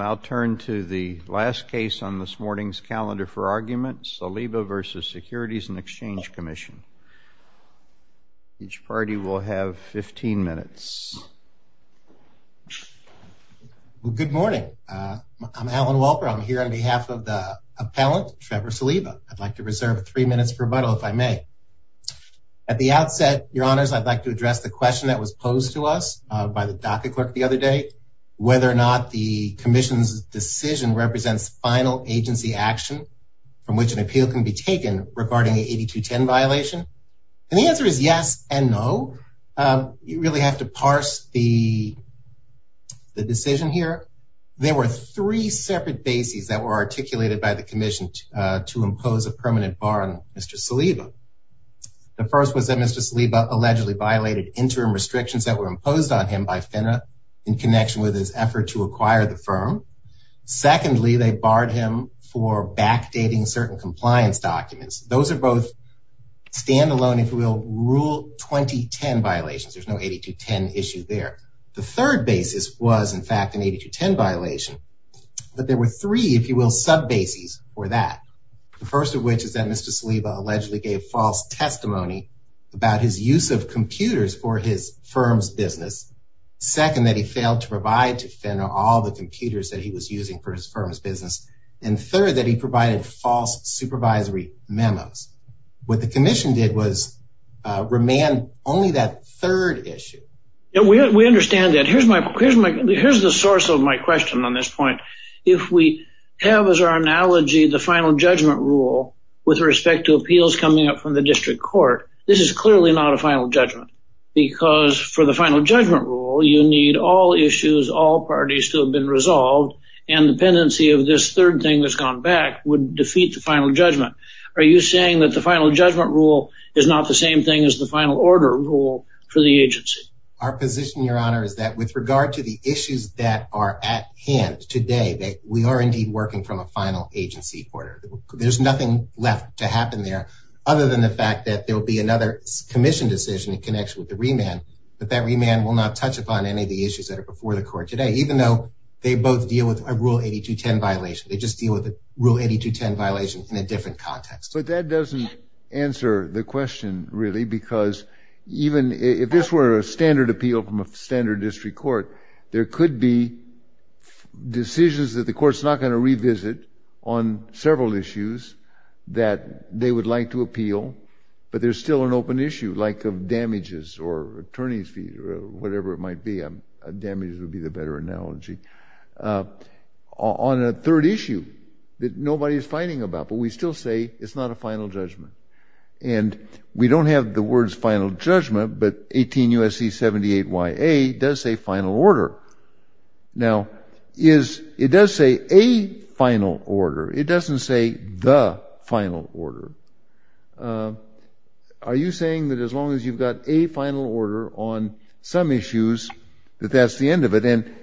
I'll turn to the last case on this morning's calendar for argument, Saliba v. Securities and Exchange Commission. Each party will have 15 minutes. Good morning. I'm Alan Wolper. I'm here on behalf of the appellant, Trevor Saliba. I'd like to reserve three minutes for rebuttal, if I may. At the outset, your honors, I'd like to address the question that was posed to us by the docket clerk the other day, whether or not the commission's decision represents final agency action from which an appeal can be taken regarding the 8210 violation. And the answer is yes and no. You really have to parse the decision here. There were three separate bases that were articulated by the commission to impose a permanent bar on Mr. Saliba. The first was that Mr. Saliba allegedly violated interim restrictions that were imposed on him by FINRA in connection with his effort to acquire the firm. Secondly, they barred him for backdating certain compliance documents. Those are both standalone, if you will, rule 2010 violations. There's no 8210 issue there. The third basis was, in fact, an 8210 violation, but there were three, if you will, sub bases for that. The first of which is that Mr. Saliba allegedly gave false testimony about his use of computers for his firm's business. Second, that he failed to provide to FINRA all the computers that he was using for his firm's business. And third, that he provided false supervisory memos. What the commission did was remand only that third issue. We understand that. Here's the source of my question on this point. If we come up with an appeal from the district court, this is clearly not a final judgment. Because for the final judgment rule, you need all issues, all parties to have been resolved, and the pendency of this third thing that's gone back would defeat the final judgment. Are you saying that the final judgment rule is not the same thing as the final order rule for the agency? Our position, your honor, is that with regard to the issues that are at hand today, we are indeed working from a final agency order. There's nothing left to happen there other than the fact that there'll be another commission decision in connection with the remand, but that remand will not touch upon any of the issues that are before the court today, even though they both deal with a Rule 8210 violation. They just deal with a Rule 8210 violation in a different context. But that doesn't answer the question, really, because even if this were a standard district court, there could be decisions that the court's not going to revisit on several issues that they would like to appeal, but there's still an open issue, like of damages or attorney's fees or whatever it might be. Damages would be the better analogy. On a third issue that nobody is fighting about, but we still say it's not a final judgment. And we don't have the words final judgment, but 18 U.S.C. 78 YA does say final order. Now, it does say a final order. It doesn't say the final order. Are you saying that as long as you've got a final order on some issues, that that's the end of it? And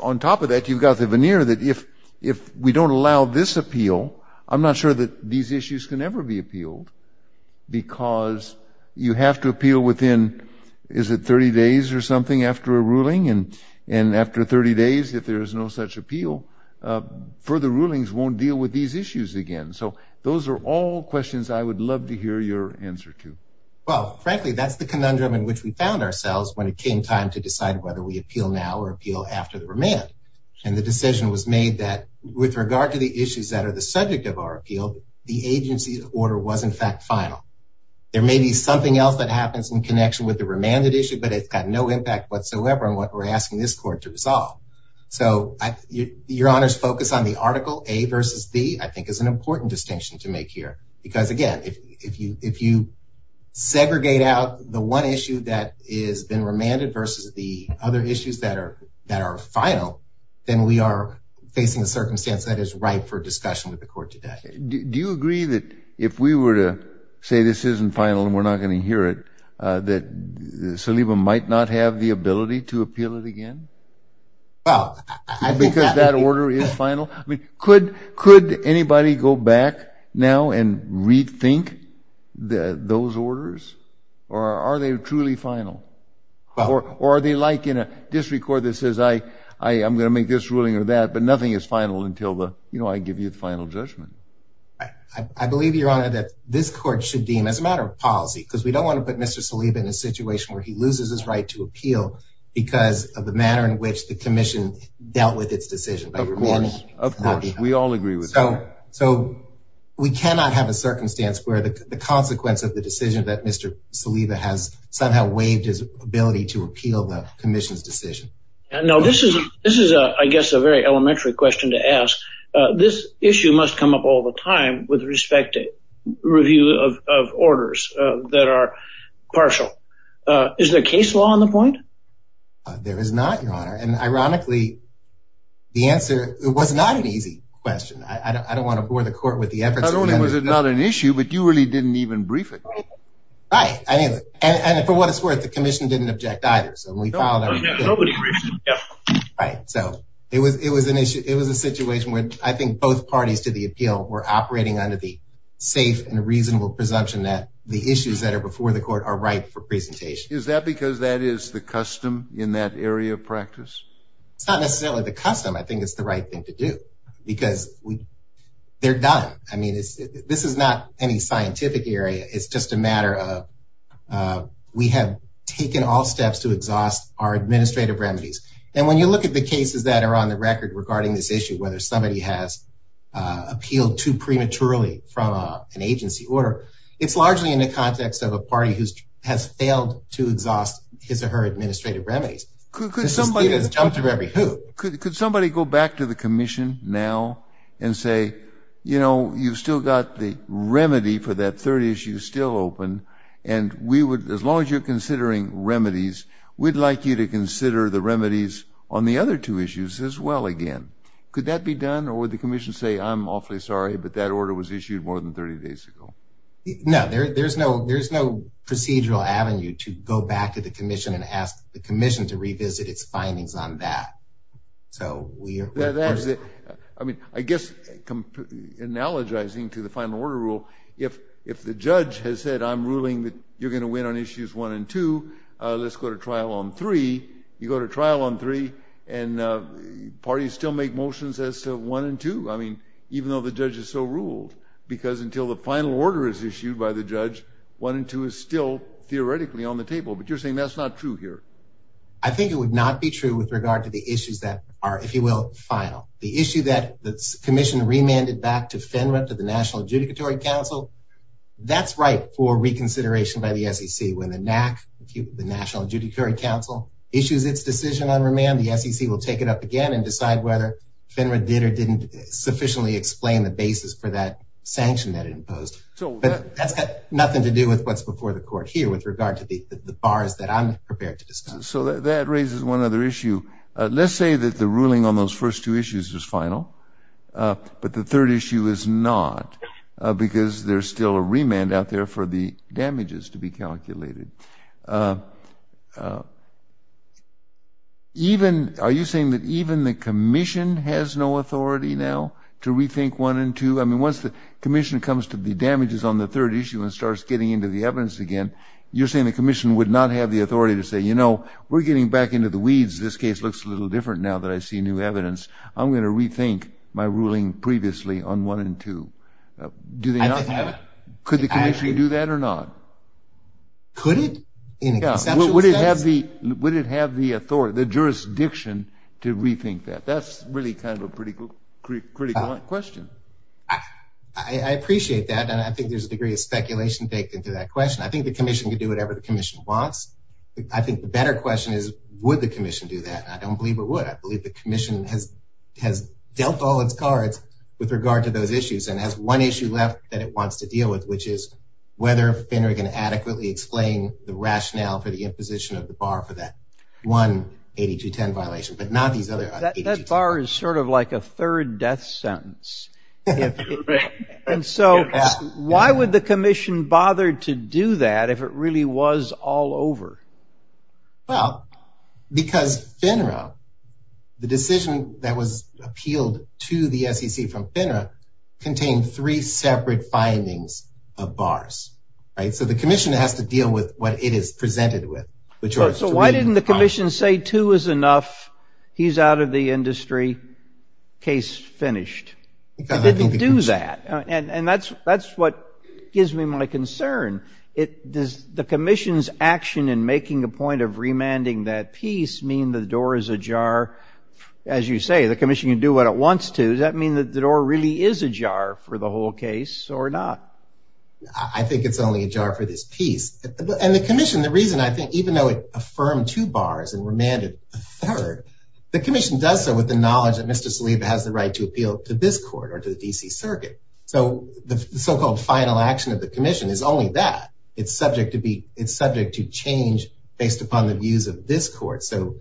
on top of that, you've got the veneer that if we don't allow this appeal, I'm not sure that these issues can ever be appealed. Because you have to appeal within, is it 30 days or something after a ruling? And after 30 days, if there is no such appeal, further rulings won't deal with these issues again. So those are all questions I would love to hear your answer to. Well, frankly, that's the conundrum in which we found ourselves when it came time to decide whether we appeal now or appeal after the remand. And the decision was made that with regard to the issues that are the subject of our appeal, the agency's order was in fact final. There may be something else that happens in connection with the remanded issue, but it's got no impact whatsoever on what we're asking this court to resolve. So your honor's focus on the article A versus B, I think is an important distinction to make here. Because again, if you segregate out the one issue that has been remanded versus the other issues that are final, then we are facing a circumstance that is ripe for discussion with the court. Do you agree that if we were to say this isn't final and we're not going to hear it, that Saliba might not have the ability to appeal it again? Well, I think that... Because that order is final? I mean, could anybody go back now and rethink those orders? Or are they truly final? Or are they like in a district court that says, I'm going to make this ruling or that, but nothing is final until I give you the final judgment? I believe, your honor, that this court should deem as a matter of policy, because we don't want to put Mr. Saliba in a situation where he loses his right to appeal because of the manner in which the commission dealt with its decision. Of course, we all agree with that. So we cannot have a circumstance where the consequence of the decision that Mr. Saliba has somehow waived his ability to appeal the commission's decision. Now, this is, I guess, a very elementary question to ask. This issue must come up all the time with respect to review of orders that are partial. Is there case law on the point? There is not, your honor. And ironically, the answer was not an easy question. I don't want to bore the court with the effort. Not only was it not an issue, but you really didn't even brief it. Right. And for what it's worth, the commission didn't object either. So we filed... Nobody briefed. Right. So it was an issue. It was a situation where I think both parties to the appeal were operating under the safe and reasonable presumption that the issues that are before the court are right for presentation. Is that because that is the custom in that area of practice? It's not necessarily the custom. I think it's the right thing to do because they're done. I mean, this is not any scientific area. It's just a matter of we have taken all steps to exhaust our administrative remedies. And when you look at the cases that are on the record regarding this issue, whether somebody has appealed too prematurely from an agency order, it's largely in the context of a party who has failed to exhaust his or her administrative remedies. Could somebody go back to the commission now and say, you've still got the remedy for that third issue still open. And as long as you're considering remedies, we'd like you to consider the remedies on the other two issues as well again. Could that be done? Or would the commission say, I'm awfully sorry, but that order was issued more than 30 days ago? No, there's no procedural avenue to go back to the commission and ask the commission to revisit its findings on that. I guess analogizing to the final order rule, if the judge has said, I'm ruling that you're going to win on issues one and two, let's go to trial on three. You go to trial on three, and parties still make motions as to one and two. I mean, even though the judge is so ruled. Because until the final order is issued by the judge, one and two is still theoretically on the table. But you're saying that's not true here. I think it would not be true with regard to the issues that are, if you will, final. The issue that the commission remanded back to FINRA, to the National Adjudicatory Council, that's right for reconsideration by the SEC. When the NAC, the National Adjudicatory Council, issues its decision on remand, the SEC will take it up again and decide whether FINRA did or didn't sufficiently explain the basis for that sanction that it imposed. But that's got nothing to do with what's the court here with regard to the bars that I'm prepared to discuss. So that raises one other issue. Let's say that the ruling on those first two issues is final, but the third issue is not, because there's still a remand out there for the damages to be calculated. Even, are you saying that even the commission has no authority now to rethink one and two? I mean, once the commission comes to the damages on the third issue and starts getting into the evidence again, you're saying the commission would not have the authority to say, you know, we're getting back into the weeds. This case looks a little different now that I see new evidence. I'm going to rethink my ruling previously on one and two. Could the commission do that or not? Could it? In a conceptual sense? Would it have the jurisdiction to rethink that? That's really kind of a critical question. I appreciate that. And I think there's a degree of speculation baked into that question. I think the commission could do whatever the commission wants. I think the better question is, would the commission do that? I don't believe it would. I believe the commission has dealt all its cards with regard to those issues and has one issue left that it wants to deal with, which is whether Finnery can adequately explain the rationale for the imposition of the bar for that one 8210 violation. That bar is sort of like a third death sentence. And so why would the commission bother to do that if it really was all over? Well, because FINRA, the decision that was appealed to the SEC from FINRA, contained three separate findings of bars, right? So the commission has to deal with what it is he's out of the industry, case finished. And that's what gives me my concern. Does the commission's action in making a point of remanding that piece mean the door is ajar? As you say, the commission can do what it wants to. Does that mean that the door really is ajar for the whole case or not? I think it's only ajar for this piece. And the commission, the reason I think, even though it affirmed two bars and remanded a third, the commission does so with the knowledge that Mr. Saliba has the right to appeal to this court or to the D.C. Circuit. So the so-called final action of the commission is only that. It's subject to change based upon the views of this court. So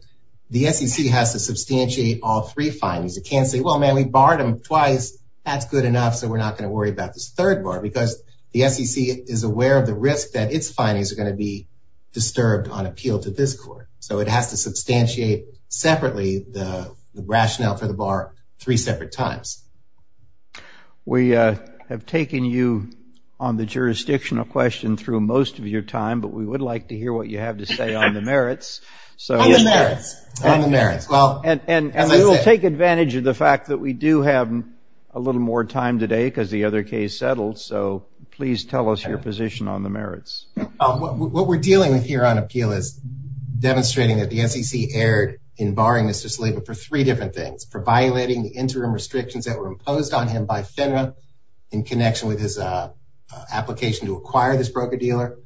the SEC has to substantiate all three findings. It can't say, well, man, we barred them twice. That's good enough. So we're not worried about this third bar because the SEC is aware of the risk that its findings are going to be disturbed on appeal to this court. So it has to substantiate separately the rationale for the bar three separate times. We have taken you on the jurisdictional question through most of your time, but we would like to hear what you have to say on the merits. On the merits. And we will take so please tell us your position on the merits. What we're dealing with here on appeal is demonstrating that the SEC erred in barring Mr. Saliba for three different things, for violating the interim restrictions that were imposed on him by FINRA in connection with his application to acquire this broker-dealer,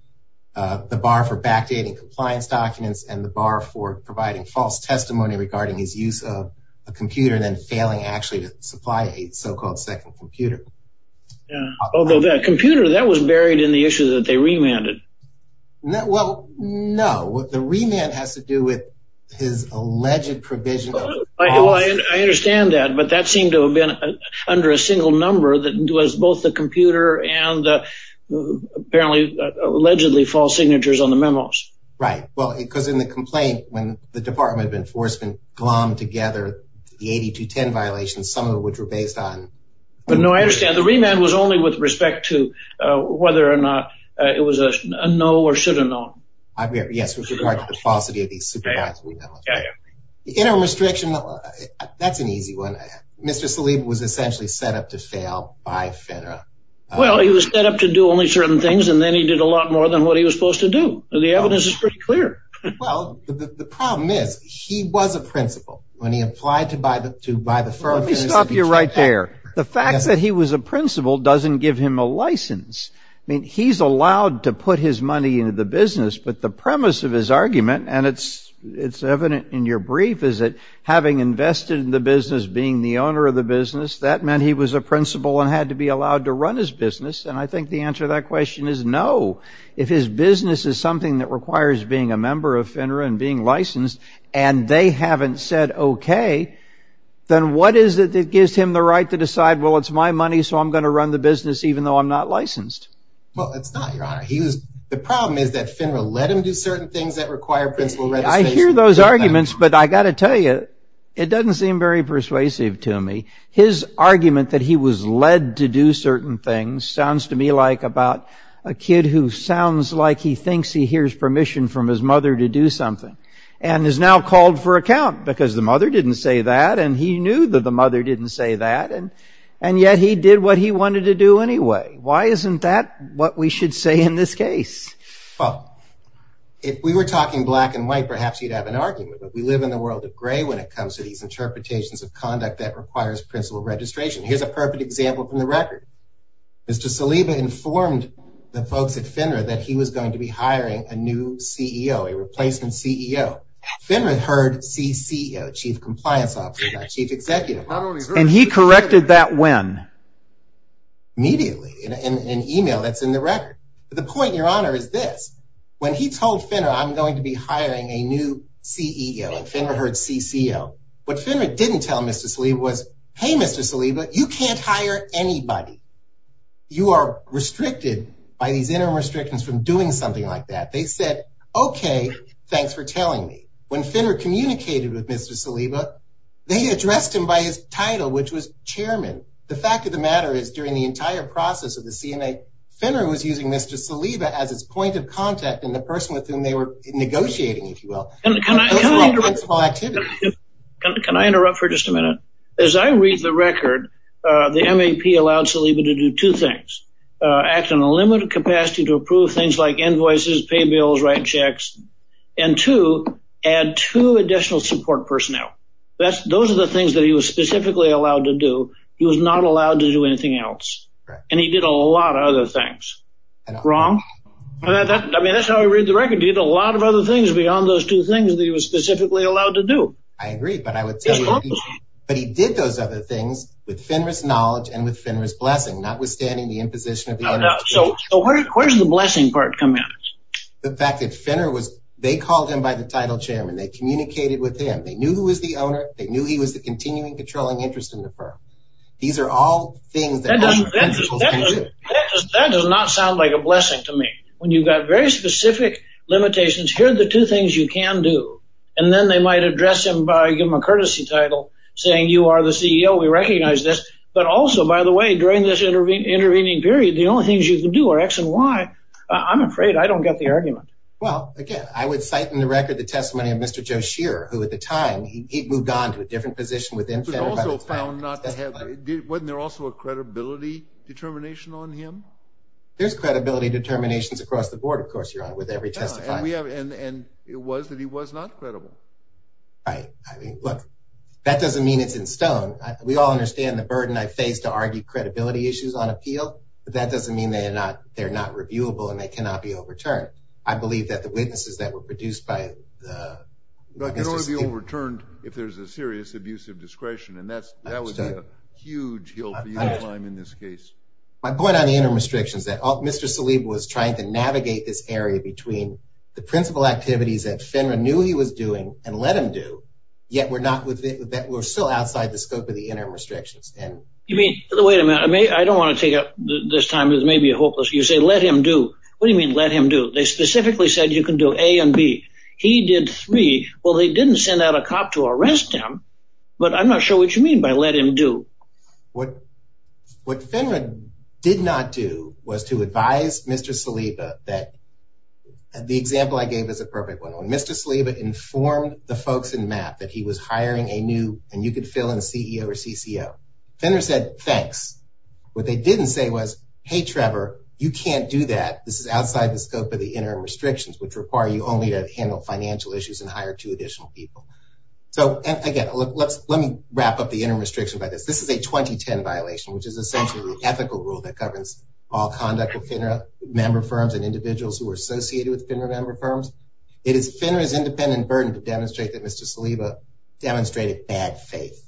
the bar for backdating compliance documents, and the bar for providing false testimony regarding his use of a computer and then failing actually to supply a so-called second computer. Although that computer that was buried in the issue that they remanded. Well, no, the remand has to do with his alleged provision. I understand that, but that seemed to have been under a single number that was both the computer and apparently allegedly false signatures on the memos. Right. Well, because in the complaint, when the Department of Enforcement glommed together the 8210 violations, some of which were based on... But no, I understand the remand was only with respect to whether or not it was a no or should have known. Yes, with regard to the falsity of these supervised remand. Interim restriction, that's an easy one. Mr. Saliba was essentially set up to fail by FINRA. Well, he was set up to do only certain things and then he did a lot more than what he was supposed to do. The evidence is pretty clear. Well, the problem is he was a principal when he applied to buy the firm. Let me stop you right there. The fact that he was a principal doesn't give him a license. I mean, he's allowed to put his money into the business. But the premise of his argument, and it's evident in your brief, is that having invested in the business, being the owner of the business, that meant he was a principal and had to be allowed to run his business. And I think the that requires being a member of FINRA and being licensed and they haven't said, OK, then what is it that gives him the right to decide, well, it's my money, so I'm going to run the business even though I'm not licensed? Well, it's not, Your Honor. The problem is that FINRA let him do certain things that require principal registration. I hear those arguments, but I got to tell you, it doesn't seem very persuasive to me. His argument that he was led to do certain things sounds to me like about a kid who sounds like he thinks he hears permission from his mother to do something and is now called for account because the mother didn't say that, and he knew that the mother didn't say that, and yet he did what he wanted to do anyway. Why isn't that what we should say in this case? Well, if we were talking black and white, perhaps you'd have an argument, but we live in a world of gray when it comes to these interpretations of conduct that requires principal registration. Here's a perfect example from the record. Mr. Saliba informed the folks at FINRA that he was going to be hiring a new CEO, a replacement CEO. FINRA heard CCO, Chief Compliance Officer, not Chief Executive. And he corrected that when? Immediately, in an email that's in the record. But the point, Your Honor, is this. When he told FINRA I'm going to be hiring a new CEO and FINRA heard CCO, what FINRA didn't tell Mr. Saliba was hey, Mr. Saliba, you can't hire anybody. You are restricted by these interim restrictions from doing something like that. They said, okay, thanks for telling me. When FINRA communicated with Mr. Saliba, they addressed him by his title, which was Chairman. The fact of the matter is, during the entire process of the CNA, FINRA was using Mr. Saliba as its point of contact and the person with whom they were negotiating, if you will. Can I interrupt for just a minute? As I read the record, the MAP allowed Saliba to do two things. Act on a limited capacity to approve things like invoices, pay bills, write checks, and two, add two additional support personnel. Those are the things that he was specifically allowed to do. He was not allowed to do anything else. And he did a lot of other things. Wrong? I mean, that's how I read the record. He did a lot of other things beyond those two things that he was specifically allowed to do. I agree, but I would say, but he did those other things with FINRA's knowledge and with FINRA's blessing, notwithstanding the imposition of the... So where does the blessing part come in? The fact that FINRA was, they called him by the title Chairman. They communicated with him. They knew who was the owner. They knew he was the continuing controlling interest in the firm. These are all things that... That does not sound like a blessing to me. When you've got very things you can do, and then they might address him by giving him a courtesy title, saying, you are the CEO. We recognize this. But also, by the way, during this intervening period, the only things you can do are X and Y. I'm afraid I don't get the argument. Well, again, I would cite in the record the testimony of Mr. Joe Shearer, who at the time, he'd moved on to a different position within FINRA by the time... He was also found not to have... Wasn't there also a credibility determination on him? There's credibility determinations across the board. Of course, you're on with every testifying. It was that he was not credible. Right. Look, that doesn't mean it's in stone. We all understand the burden I face to argue credibility issues on appeal, but that doesn't mean they're not reviewable and they cannot be overturned. I believe that the witnesses that were produced by the... They can only be overturned if there's a serious abuse of discretion, and that would be a huge hill for you to climb in this case. My point on the interim restrictions is that Mr. Saliba was trying to navigate this area between principal activities that FINRA knew he was doing and let him do, yet we're still outside the scope of the interim restrictions. You mean... Wait a minute. I don't want to take up this time. This may be hopeless. You say let him do. What do you mean let him do? They specifically said you can do A and B. He did three. Well, they didn't send out a cop to arrest him, but I'm not sure what you mean by let him do. What FINRA did not do was to advise Mr. Saliba that... The example I gave is a perfect one. Mr. Saliba informed the folks in MAP that he was hiring a new... And you could fill in CEO or CCO. FINRA said, thanks. What they didn't say was, hey, Trevor, you can't do that. This is outside the scope of the interim restrictions, which require you only to handle financial issues and hire two additional people. So again, let me wrap up the interim restrictions by this. This is a 2010 violation, which is essentially the ethical rule that governs all conduct with FINRA member firms and individuals who are associated with FINRA member firms. It is FINRA's independent burden to demonstrate that Mr. Saliba demonstrated bad faith.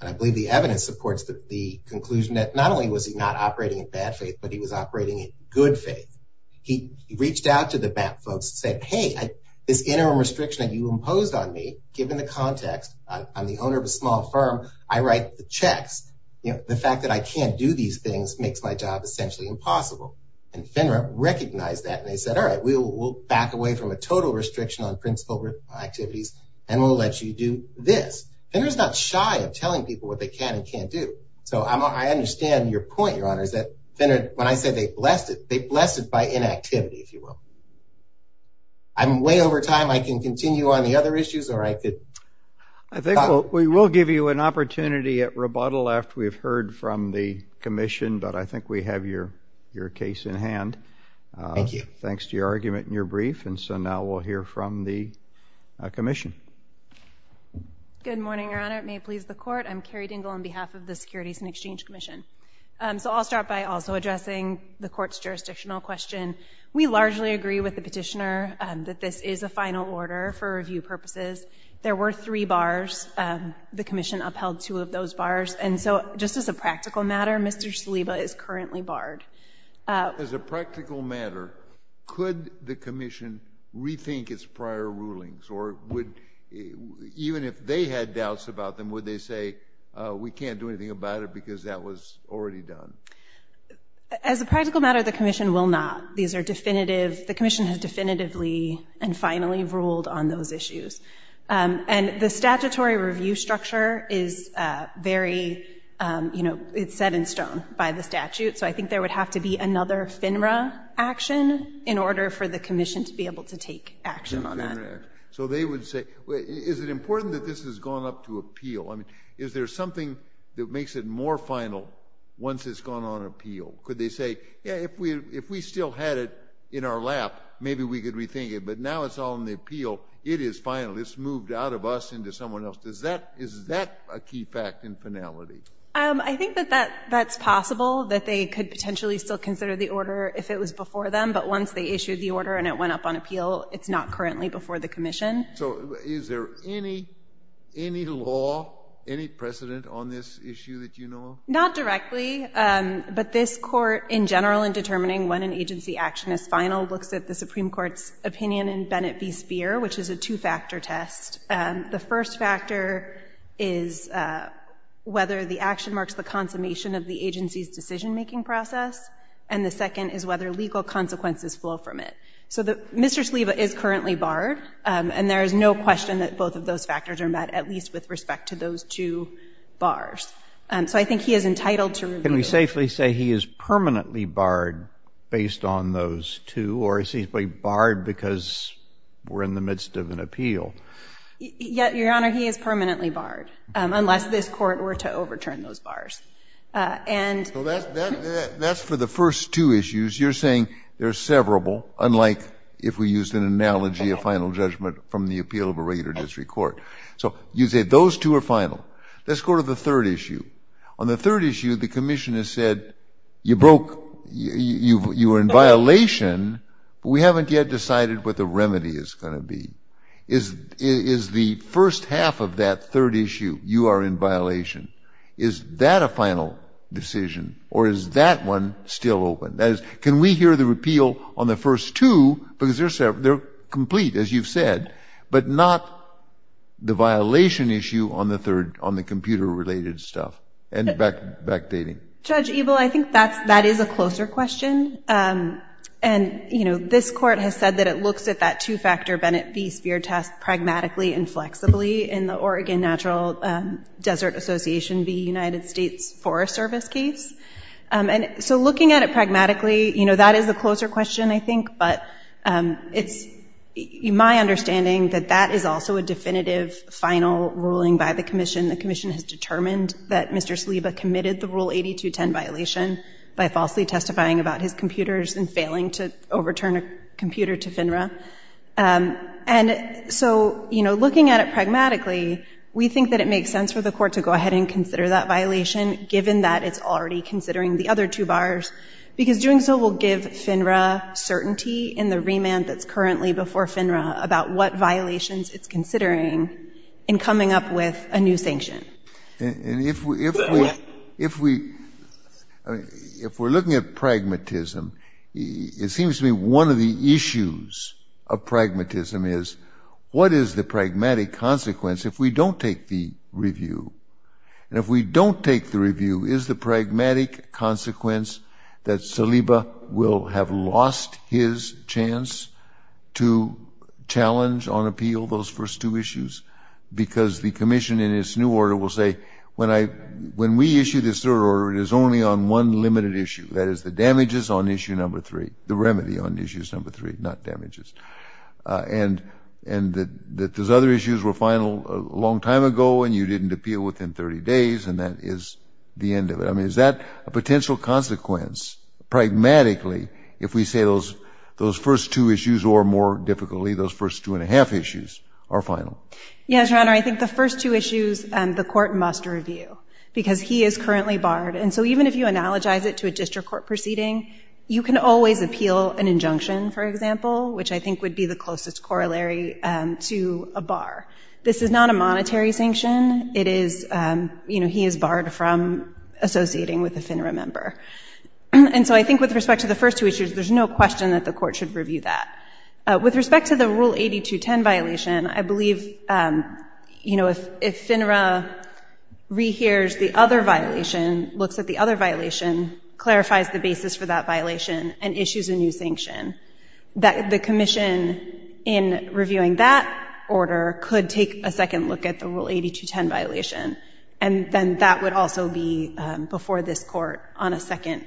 And I believe the evidence supports the conclusion that not only was he not operating in bad faith, but he was operating in good faith. He reached out to the MAP folks and said, hey, this interim restriction that you imposed on me, given the context, I'm the owner of a small firm. I write the checks. The fact that I can't do these things makes my job essentially impossible. And FINRA recognized that and they said, all right, we'll back away from a total restriction on principal activities and we'll let you do this. FINRA's not shy of telling people what they can and can't do. So I understand your point, Your Honor, is that FINRA, when I said they blessed it, they blessed it by inactivity, if you will. I'm way over time. I can continue on the other issues. All right. I think we will give you an opportunity at rebuttal after we've heard from the commission, but I think we have your case in hand. Thank you. Thanks to your argument and your brief. And so now we'll hear from the commission. Good morning, Your Honor. It may please the court. I'm Carrie Dingell on behalf of the Securities and Exchange Commission. So I'll start by also addressing the court's jurisdictional question. We largely agree with the petitioner that this is a final order for review purposes. There were three bars. The commission upheld two of those bars. And so just as a practical matter, Mr. Shaliba is currently barred. As a practical matter, could the commission rethink its prior rulings? Or would, even if they had doubts about them, would they say, we can't do anything about it because that was already done? As a practical matter, the commission will not. These are definitive. The commission has definitively and finally ruled on those issues. And the statutory review structure is very, you know, it's set in stone by the statute. So I think there would have to be another FINRA action in order for the commission to be able to take action on that. So they would say, is it important that this has gone up to appeal? I mean, is there something that makes it more final once it's gone on appeal? Could they say, if we still had it in our lap, maybe we could rethink it. But now it's all in the appeal. It is final. It's moved out of us into someone else. Is that a key fact in finality? I think that that's possible, that they could potentially still consider the order if it was before them. But once they issued the order and it went up on appeal, it's not currently before the commission. So is there any law, any precedent on this issue that you know of? Not directly. But this court, in general, in determining when an agency action is final, looks at the Supreme Court's opinion in Bennett v. Speer, which is a two-factor test. The first factor is whether the action marks the consummation of the agency's decision-making process. And the second is whether legal consequences flow from it. So Mr. Sliva is currently barred. And there is no question that both of those factors are met, at least with Can we safely say he is permanently barred based on those two? Or is he barred because we're in the midst of an appeal? Your Honor, he is permanently barred, unless this court were to overturn those bars. That's for the first two issues. You're saying they're severable, unlike if we used an analogy of final judgment from the appeal of a regular district court. So you say those two are final. Let's go to the third issue. On the third issue, the commission has said, you broke, you were in violation, but we haven't yet decided what the remedy is going to be. Is the first half of that third issue, you are in violation. Is that a final decision? Or is that one still open? That is, can we hear the repeal on the first two, because they're complete, as you've said, but not the violation issue on the third, on the computer related stuff, and backdating? Judge Ebel, I think that's, that is a closer question. And, you know, this court has said that it looks at that two factor Bennett v. Spear test pragmatically and flexibly in the Oregon Natural Desert Association v. United States Forest Service case. And so looking at it pragmatically, you know, that is a closer question, I think, but it's my understanding that that is also a definitive final ruling by the commission. The commission has determined that Mr. Saliba committed the Rule 8210 violation by falsely testifying about his computers and failing to overturn a computer to FINRA. And so, you know, looking at it pragmatically, we think that it makes sense for the court to go ahead and consider that violation, given that it's already considering the other two bars, because doing so will give FINRA certainty in the remand that's currently before FINRA about what violations it's considering in coming up with a new sanction. And if we, if we, if we, I mean, if we're looking at pragmatism, it seems to me one of the issues of pragmatism is what is the pragmatic consequence if we don't take the review? And if we don't take the review, is the pragmatic consequence that Saliba will have lost his chance to challenge on appeal those first two issues? Because the commission in its new order will say, when I, when we issue this third order, it is only on one limited issue, that is the damages on issue number three, the remedy on issues number three, not damages. And, and that those other the end of it, I mean, is that a potential consequence, pragmatically, if we say those, those first two issues, or more difficultly, those first two and a half issues are final? Yes, Your Honor, I think the first two issues, the court must review, because he is currently barred. And so even if you analogize it to a district court proceeding, you can always appeal an injunction, for example, which I think would be the closest corollary to a bar. This is not a monetary sanction. It is, you know, he is barred from associating with a FINRA member. And so I think with respect to the first two issues, there's no question that the court should review that. With respect to the Rule 8210 violation, I believe, you know, if, if FINRA rehears the other violation, looks at the other violation, clarifies the basis for that violation, and issues a new sanction, that the commission in reviewing that order could take a second look at the Rule 8210 violation. And then that would also be before this court on a second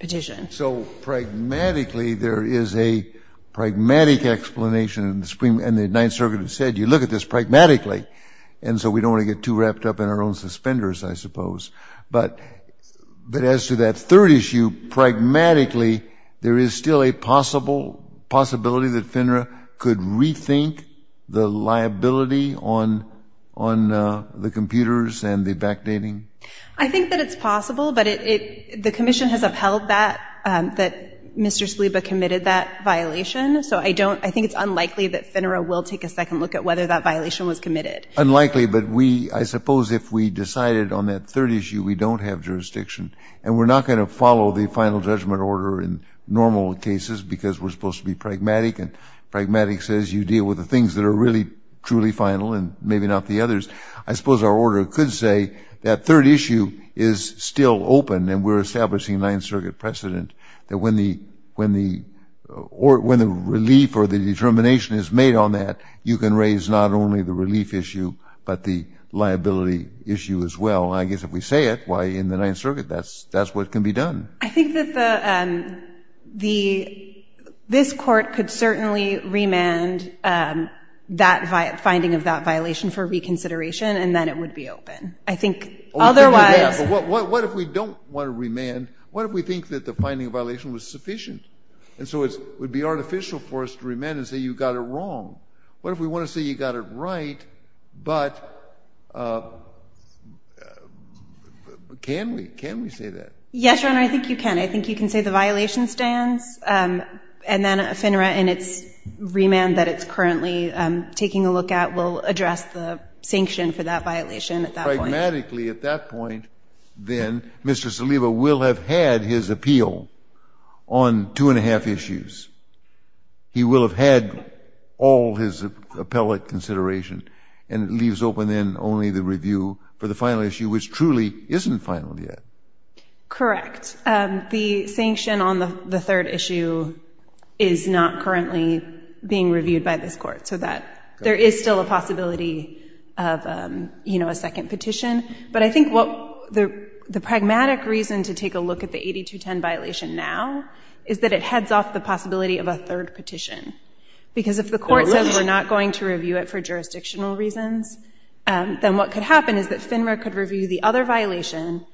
petition. So pragmatically, there is a pragmatic explanation in the Supreme and the Ninth Circuit have said, you look at this pragmatically. And so we don't want to get too wrapped up in our own suspenders, I suppose. But, but as to that third issue, pragmatically, there is still a possible possibility that FINRA could rethink the liability on, on the computers and the backdating. I think that it's possible, but it, the commission has upheld that, that Mr. Spaliba committed that violation. So I don't, I think it's unlikely that FINRA will take a second look at whether that violation was committed. Unlikely, but we, I suppose, if we decided on that third issue, we don't have jurisdiction, and we're not going to follow the final judgment order in normal cases, because we're supposed to be pragmatic. And pragmatic says you deal with the things that are really truly final, and maybe not the others. I suppose our order could say that third issue is still open, and we're establishing Ninth Circuit precedent that when the, when the, or when the relief or the determination is made on that, you can raise not only the relief issue, but the liability issue as well. I guess if we say it, why, in the Ninth Circuit, that's, that's what can be done. I think that the, the, this court could certainly remand that finding of that violation for reconsideration, and then it would be open. I think otherwise. But what, what if we don't want to remand? What if we think that the finding of violation was sufficient? And so it's, it would be artificial for us to remand and say you got it wrong. What if we want to say you got it right, but can we, can we say that? Yes, Your Honor, I think you can. I think you can say the violation stands, and then FINRA in its remand that it's currently taking a look at will address the sanction for that violation at that point. Dramatically at that point, then Mr. Saliba will have had his appeal on two and a half issues. He will have had all his appellate consideration, and it leaves open then only the review for the final issue, which truly isn't final yet. Correct. The sanction on the third issue is not currently being reviewed by this court, so that there is still a possibility of, you know, a second petition. But I think what the, the pragmatic reason to take a look at the 8210 violation now is that it heads off the possibility of a third petition. Because if the court says we're not going to review it for jurisdictional reasons, then what could happen is that FINRA could review the other violation.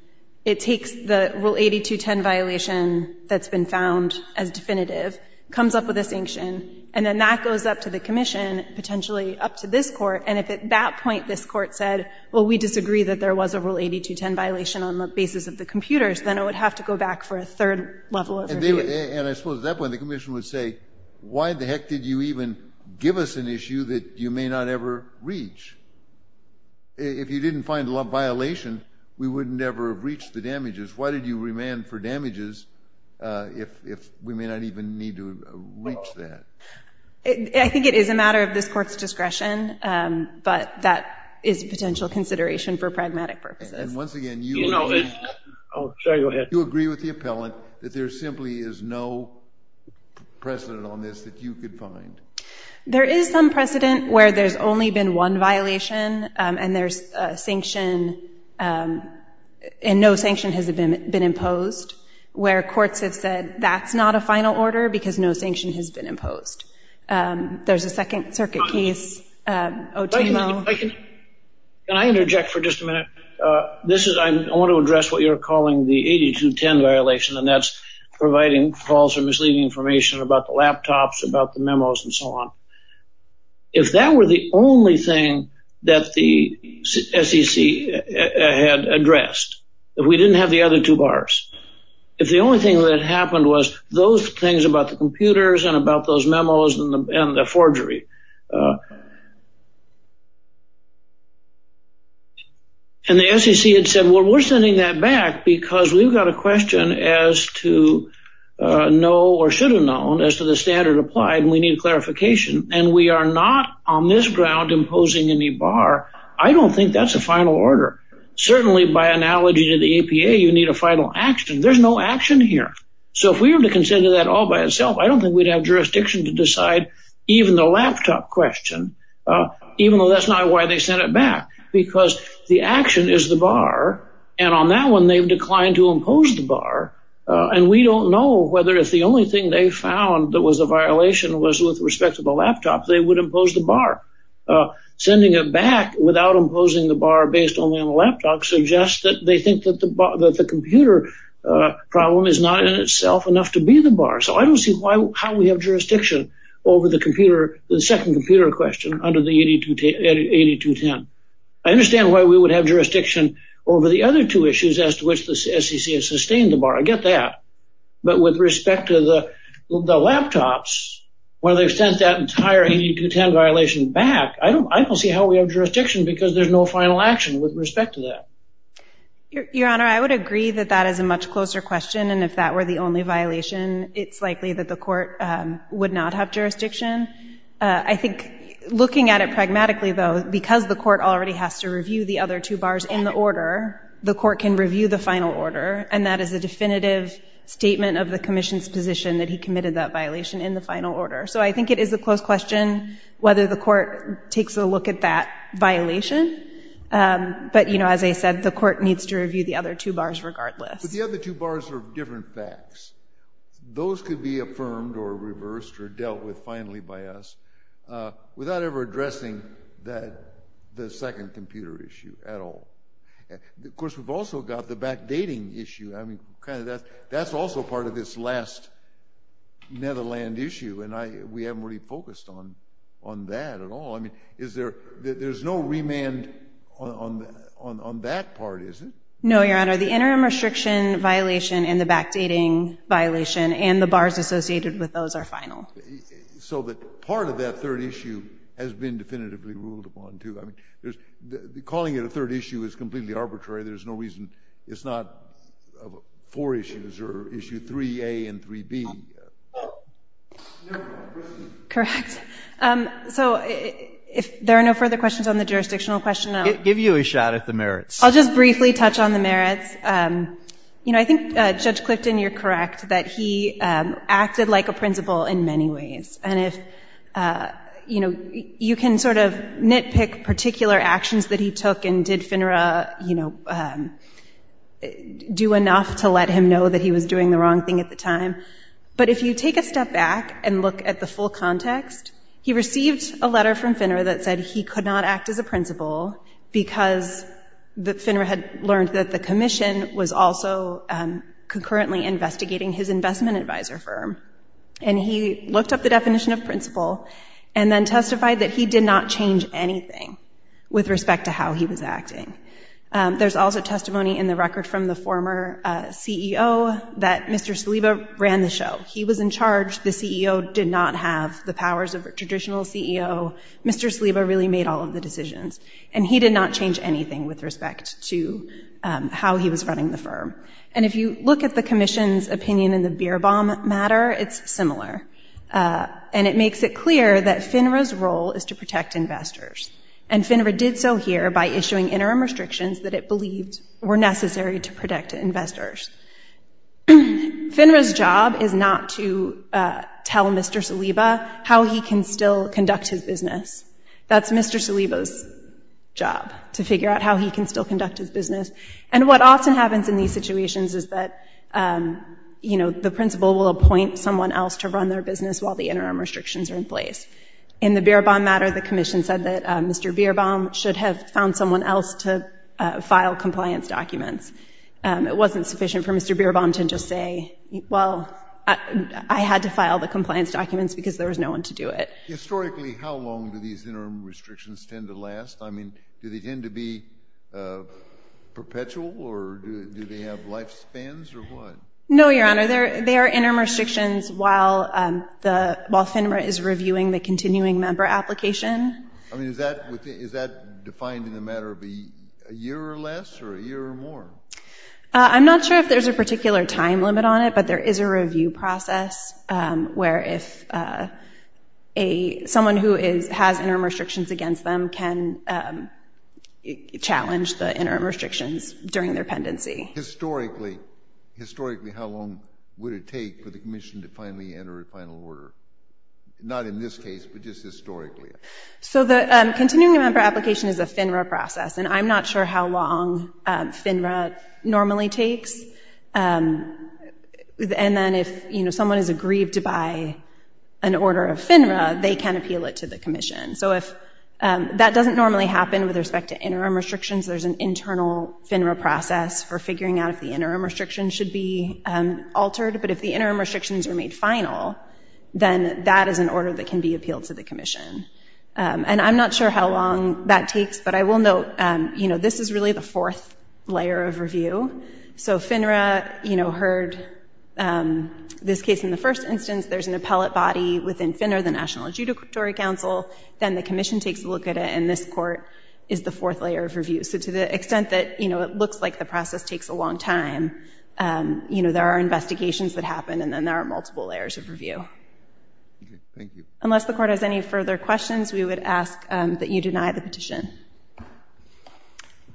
It takes the Rule 8210 violation that's been found as definitive, comes up with a sanction, and then that goes up to the commission, potentially up to this court. And if at that point this court said, well, we disagree that there was a Rule 8210 violation on the basis of the computers, then it would have to go back for a third level of review. And I suppose at that point the commission would say, why the heck did you even give us an issue that you may not ever reach? If you didn't find a violation, we wouldn't ever have reached the damages. Why did you remand for damages if we may not even need to reach that? I think it is a matter of this court's discretion, but that is a potential consideration for pragmatic purposes. And once again, do you agree with the appellant that there simply is no precedent on this that you could find? There is some precedent where there's only been one violation, and there's a sanction, and no sanction has been imposed, where courts have said that's not a final order because no There's a second circuit case. Can I interject for just a minute? I want to address what you're calling the 8210 violation, and that's providing false or misleading information about the laptops, about the memos, and so on. If that were the only thing that the SEC had addressed, if we didn't have the other two bars, if the only thing that happened was those things about the computers and about those and the forgery, and the SEC had said, well, we're sending that back because we've got a question as to no or should have known as to the standard applied, and we need clarification. And we are not on this ground imposing any bar. I don't think that's a final order. Certainly, by analogy to the APA, you need a final action. There's no action here. So if we were to consider that all by itself, I don't think we'd have jurisdiction to decide even the laptop question, even though that's not why they sent it back, because the action is the bar. And on that one, they've declined to impose the bar. And we don't know whether it's the only thing they found that was a violation was with respect to the laptop, they would impose the bar. Sending it back without imposing the bar based only on the laptop suggests that they think that the computer problem is not in itself enough to be the bar. So I don't see how we have jurisdiction over the computer, the second computer question under the 8210. I understand why we would have jurisdiction over the other two issues as to which the SEC has sustained the bar. I get that. But with respect to the laptops, where they've sent that entire 8210 violation back, I don't see how we have jurisdiction because there's no final action with respect to that. Your Honor, I would agree that that is a much closer question. And if that were the only violation, it's likely that the court would not have jurisdiction. I think looking at it pragmatically, though, because the court already has to review the other two bars in the order, the court can review the final order. And that is a definitive statement of the commission's position that he committed that violation in the final order. So I think it is a close question whether the court takes a look at that violation. But as I said, the court needs to review the other two bars regardless. But the other two bars are different facts. Those could be affirmed or reversed or dealt with finally by us without ever addressing the second computer issue at all. Of course, we've also got the backdating issue. I mean, that's also part of this last Netherland issue. And we haven't really focused on that at all. I mean, there's no remand on that part, is it? No, Your Honor. The interim restriction violation and the backdating violation and the bars associated with those are final. So that part of that third issue has been definitively ruled upon, too. I mean, calling it a third issue is completely arbitrary. There's no reason it's not four issues or issue 3A and 3B. Correct. So if there are no further questions on the jurisdictional question, I'll Give you a shot at the merits. I'll just briefly touch on the merits. I think Judge Clifton, you're correct that he acted like a principal in many ways. And you can sort of nitpick particular actions that he took. And did FINRA do enough to let him know that he was doing the wrong thing at the time? But if you take a step back and look at the full context, he received a letter from FINRA that said he could not act as a principal because FINRA had learned that the commission was also concurrently investigating his investment advisor firm. And he looked up the definition of principal and then testified that he did not change anything with respect to how he was acting. There's also testimony in the record from the former CEO that Mr. Saliba ran the show. He was in charge. The CEO did not have the powers of a traditional CEO. Mr. Saliba really made all of the decisions. And he did not change anything with respect to how he was running the firm. And if you look at the commission's opinion in the beer bomb matter, it's similar. And it makes it clear that FINRA's role is to protect investors. And FINRA did so here by issuing interim restrictions that it believed were necessary to protect investors. FINRA's job is not to tell Mr. Saliba how he can still conduct his business. That's Mr. Saliba's job, to figure out how he can still conduct his business. And what often happens in these situations is that, you know, the principal will appoint someone else to run their business while the interim restrictions are in place. In the beer bomb matter, the commission said that Mr. Beer Bomb should have found someone else to file compliance documents. It wasn't sufficient for Mr. Beer Bomb to just say, well, I had to file the compliance documents because there was no one to do it. Historically, how long do these interim restrictions tend to last? I mean, do they tend to be perpetual, or do they have lifespans, or what? No, Your Honor. They are interim restrictions while FINRA is reviewing the continuing member application. I mean, is that defined in the matter of a year or less, or a year or more? I'm not sure if there's a particular time limit on it, but there is a review process where if someone who has interim restrictions against them can challenge the interim restrictions during their pendency. Historically, historically, how long would it take for the commission to finally enter a final order? Not in this case, but just historically. So the continuing member application is a FINRA process, and I'm not sure how long FINRA normally takes. And then if someone is aggrieved by an order of FINRA, they can appeal it to the commission. So if that doesn't normally happen with respect to interim restrictions, there's an internal FINRA process for figuring out if the interim restrictions should be altered. But if the interim restrictions are made final, then that is an order that can be appealed to the commission. And I'm not sure how long that takes. But I will note, this is really the fourth layer of review. So FINRA heard this case in the first instance. There's an appellate body within FINRA, the National Adjudicatory Council. Then the commission takes a look at it, and this court is the fourth layer of review. So to the extent that it looks like the process takes a long time, there are investigations that happen, and then there are multiple layers of review. Unless the court has any further questions, we would ask that you deny the petition. Thank you.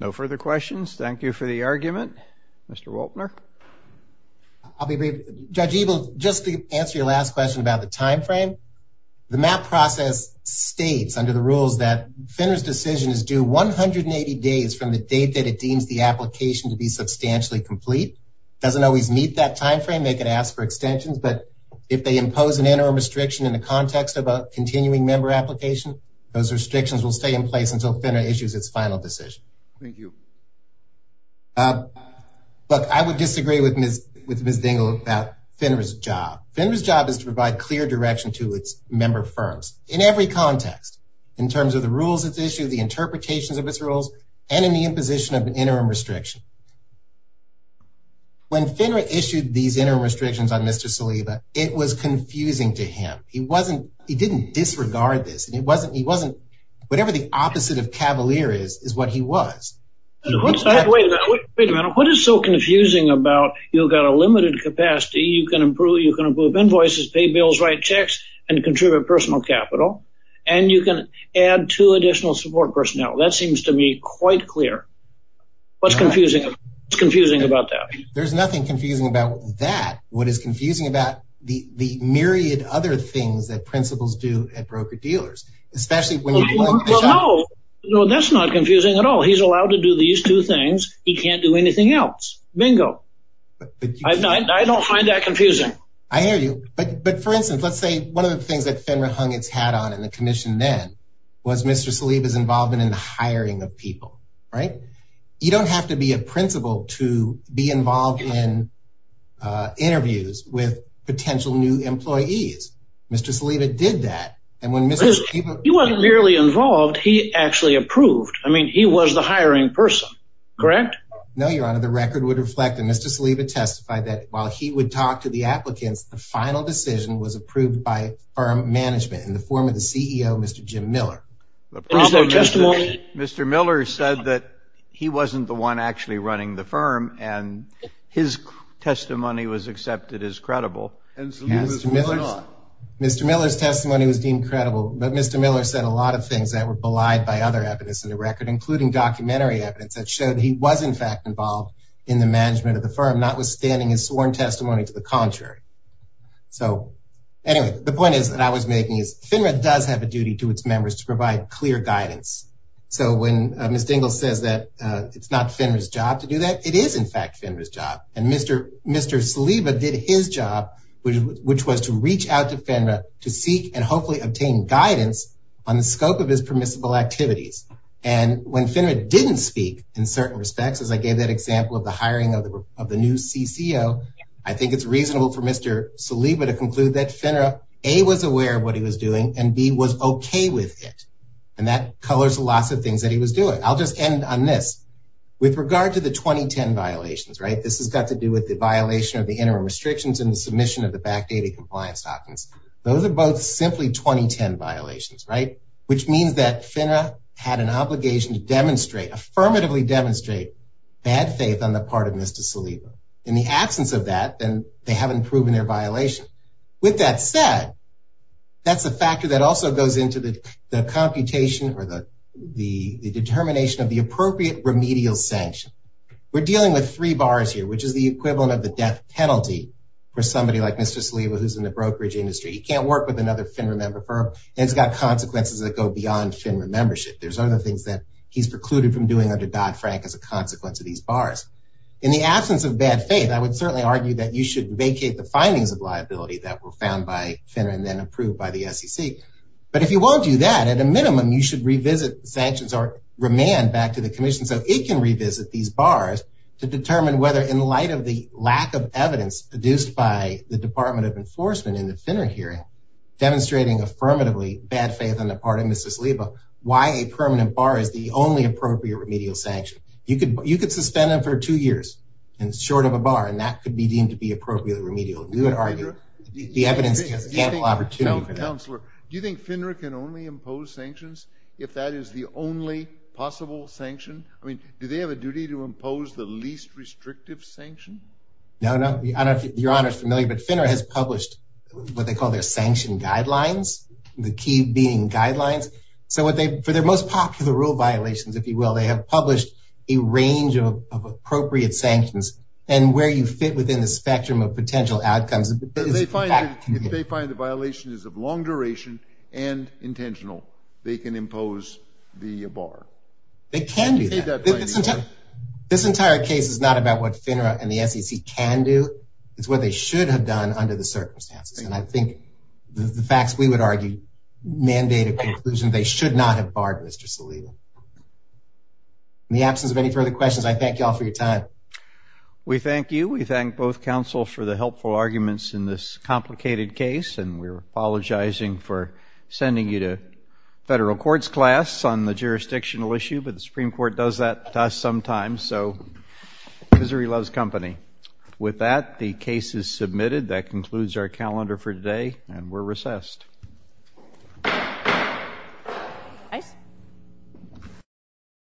No further questions. Thank you for the argument. Mr. Wolpner? I'll be brief. Judge Ebel, just to answer your last question about the time frame, the MAP process states under the rules that FINRA's decision is due 180 days from the date that it deems the application to be substantially complete. It doesn't always meet that time frame. They can ask for extensions. But if they impose an interim restriction in the context of a continuing member application, those restrictions will stay in place until FINRA issues its final decision. Thank you. Look, I would disagree with Ms. Dingell about FINRA's job. FINRA's job is to provide clear direction to its member firms in every context, in terms of the rules it's issued, the interpretations of its rules, and in the imposition of an interim restriction. When FINRA issued these interim restrictions on Mr. Saliba, it was confusing to him. He didn't disregard this. Whatever the opposite of cavalier is, is what he was. Wait a minute. What is so confusing about you've got a limited capacity, you can improve invoices, pay bills, write checks, and contribute personal capital, and you can add two additional support personnel? That seems to me quite clear. What's confusing about that? There's nothing confusing about that. What is confusing about the myriad other things that principals do at broker-dealers, especially when you... Well, no, that's not confusing at all. He's allowed to do these two things. He can't do anything else. Bingo. I don't find that confusing. I hear you. But for instance, let's say one of the things that FINRA hung its hat on in the commission then was Mr. Saliba's involvement in the hiring of people, right? You don't have to be a principal to be involved in interviews with potential new employees. Mr. Saliba did that. He wasn't merely involved. He actually approved. I mean, he was the hiring person, correct? No, Your Honor. The record would reflect that Mr. Saliba testified that while he would talk to the applicants, the final decision was approved by firm management in the form of the CEO, Mr. Jim Miller. Is there a testimony? Mr. Miller said that he wasn't the one actually running the firm, and his testimony was accepted as credible. Mr. Miller's testimony was deemed credible, but Mr. Miller said a lot of things that were belied by other evidence in the record, including documentary evidence that showed he was in fact involved in the management of the firm, notwithstanding his sworn testimony to the contrary. So anyway, the point is that I was making is FINRA does have a duty to its members to provide clear guidance. So when Ms. Dingell says that it's not FINRA's job to do that, it is in fact FINRA's job. And Mr. Saliba did his job, which was to reach out to FINRA to seek and hopefully obtain guidance on the scope of his permissible activities. And when FINRA didn't speak in certain respects, as I gave that example of the hiring of the new CCO, I think it's reasonable for Mr. Saliba to conclude that FINRA, A, was aware of what he was doing, and B, was okay with it. And that colors lots of things that he was doing. I'll just end on this. With regard to the 2010 violations, right? This has got to do with the violation of the interim restrictions and the submission of the back data compliance documents. Those are both simply 2010 violations, right? Which means that FINRA had an obligation to demonstrate, affirmatively demonstrate bad faith on the part of Mr. Saliba. In the absence of that, then they haven't proven their violation. With that said, that's a factor that also goes into the computation or the determination of the appropriate remedial sanction. We're dealing with three bars here, which is the equivalent of the death penalty for somebody like Mr. Saliba, who's in the brokerage industry. He can't work with another FINRA member firm, and it's got consequences that go beyond FINRA membership. There's other things that he's precluded from doing under Dodd-Frank as a consequence of these bars. In the absence of bad faith, I would certainly argue that you should vacate the findings of liability that were found by FINRA and then approved by the SEC. But if you won't do that, at a minimum, you should revisit sanctions or remand back to the commission so it can revisit these bars to determine whether, in light of the lack of evidence produced by the Department of Enforcement in the FINRA hearing, demonstrating affirmatively bad faith on the part of Mr. Saliba, why a permanent bar is the only appropriate remedial sanction. You could suspend them for two years and short of a bar, and that could be deemed to be appropriately remedial. We would argue the evidence has ample opportunity for that. Counselor, do you think FINRA can only impose sanctions if that is the only possible sanction? I mean, do they have a duty to impose the least restrictive sanction? No, no. I don't know if Your Honor is familiar, but FINRA has published what they call their sanction guidelines, the key meaning guidelines. So for their most popular rule violations, if you will, they have published a range of appropriate sanctions. And where you fit within the spectrum of potential outcomes If they find the violation is of long duration and intentional, they can impose the bar. They can do that. This entire case is not about what FINRA and the SEC can do. It's what they should have done under the circumstances. And I think the facts we would argue mandate a conclusion they should not have barred Mr. Saliba. In the absence of any further questions, I thank you all for your time. We thank you. We thank both counsel for the helpful arguments in this complicated case. And we're apologizing for sending you to federal courts class on the jurisdictional issue. But the Supreme Court does that to us sometimes. So misery loves company. With that, the case is submitted. That concludes our calendar for today. And we're recessed.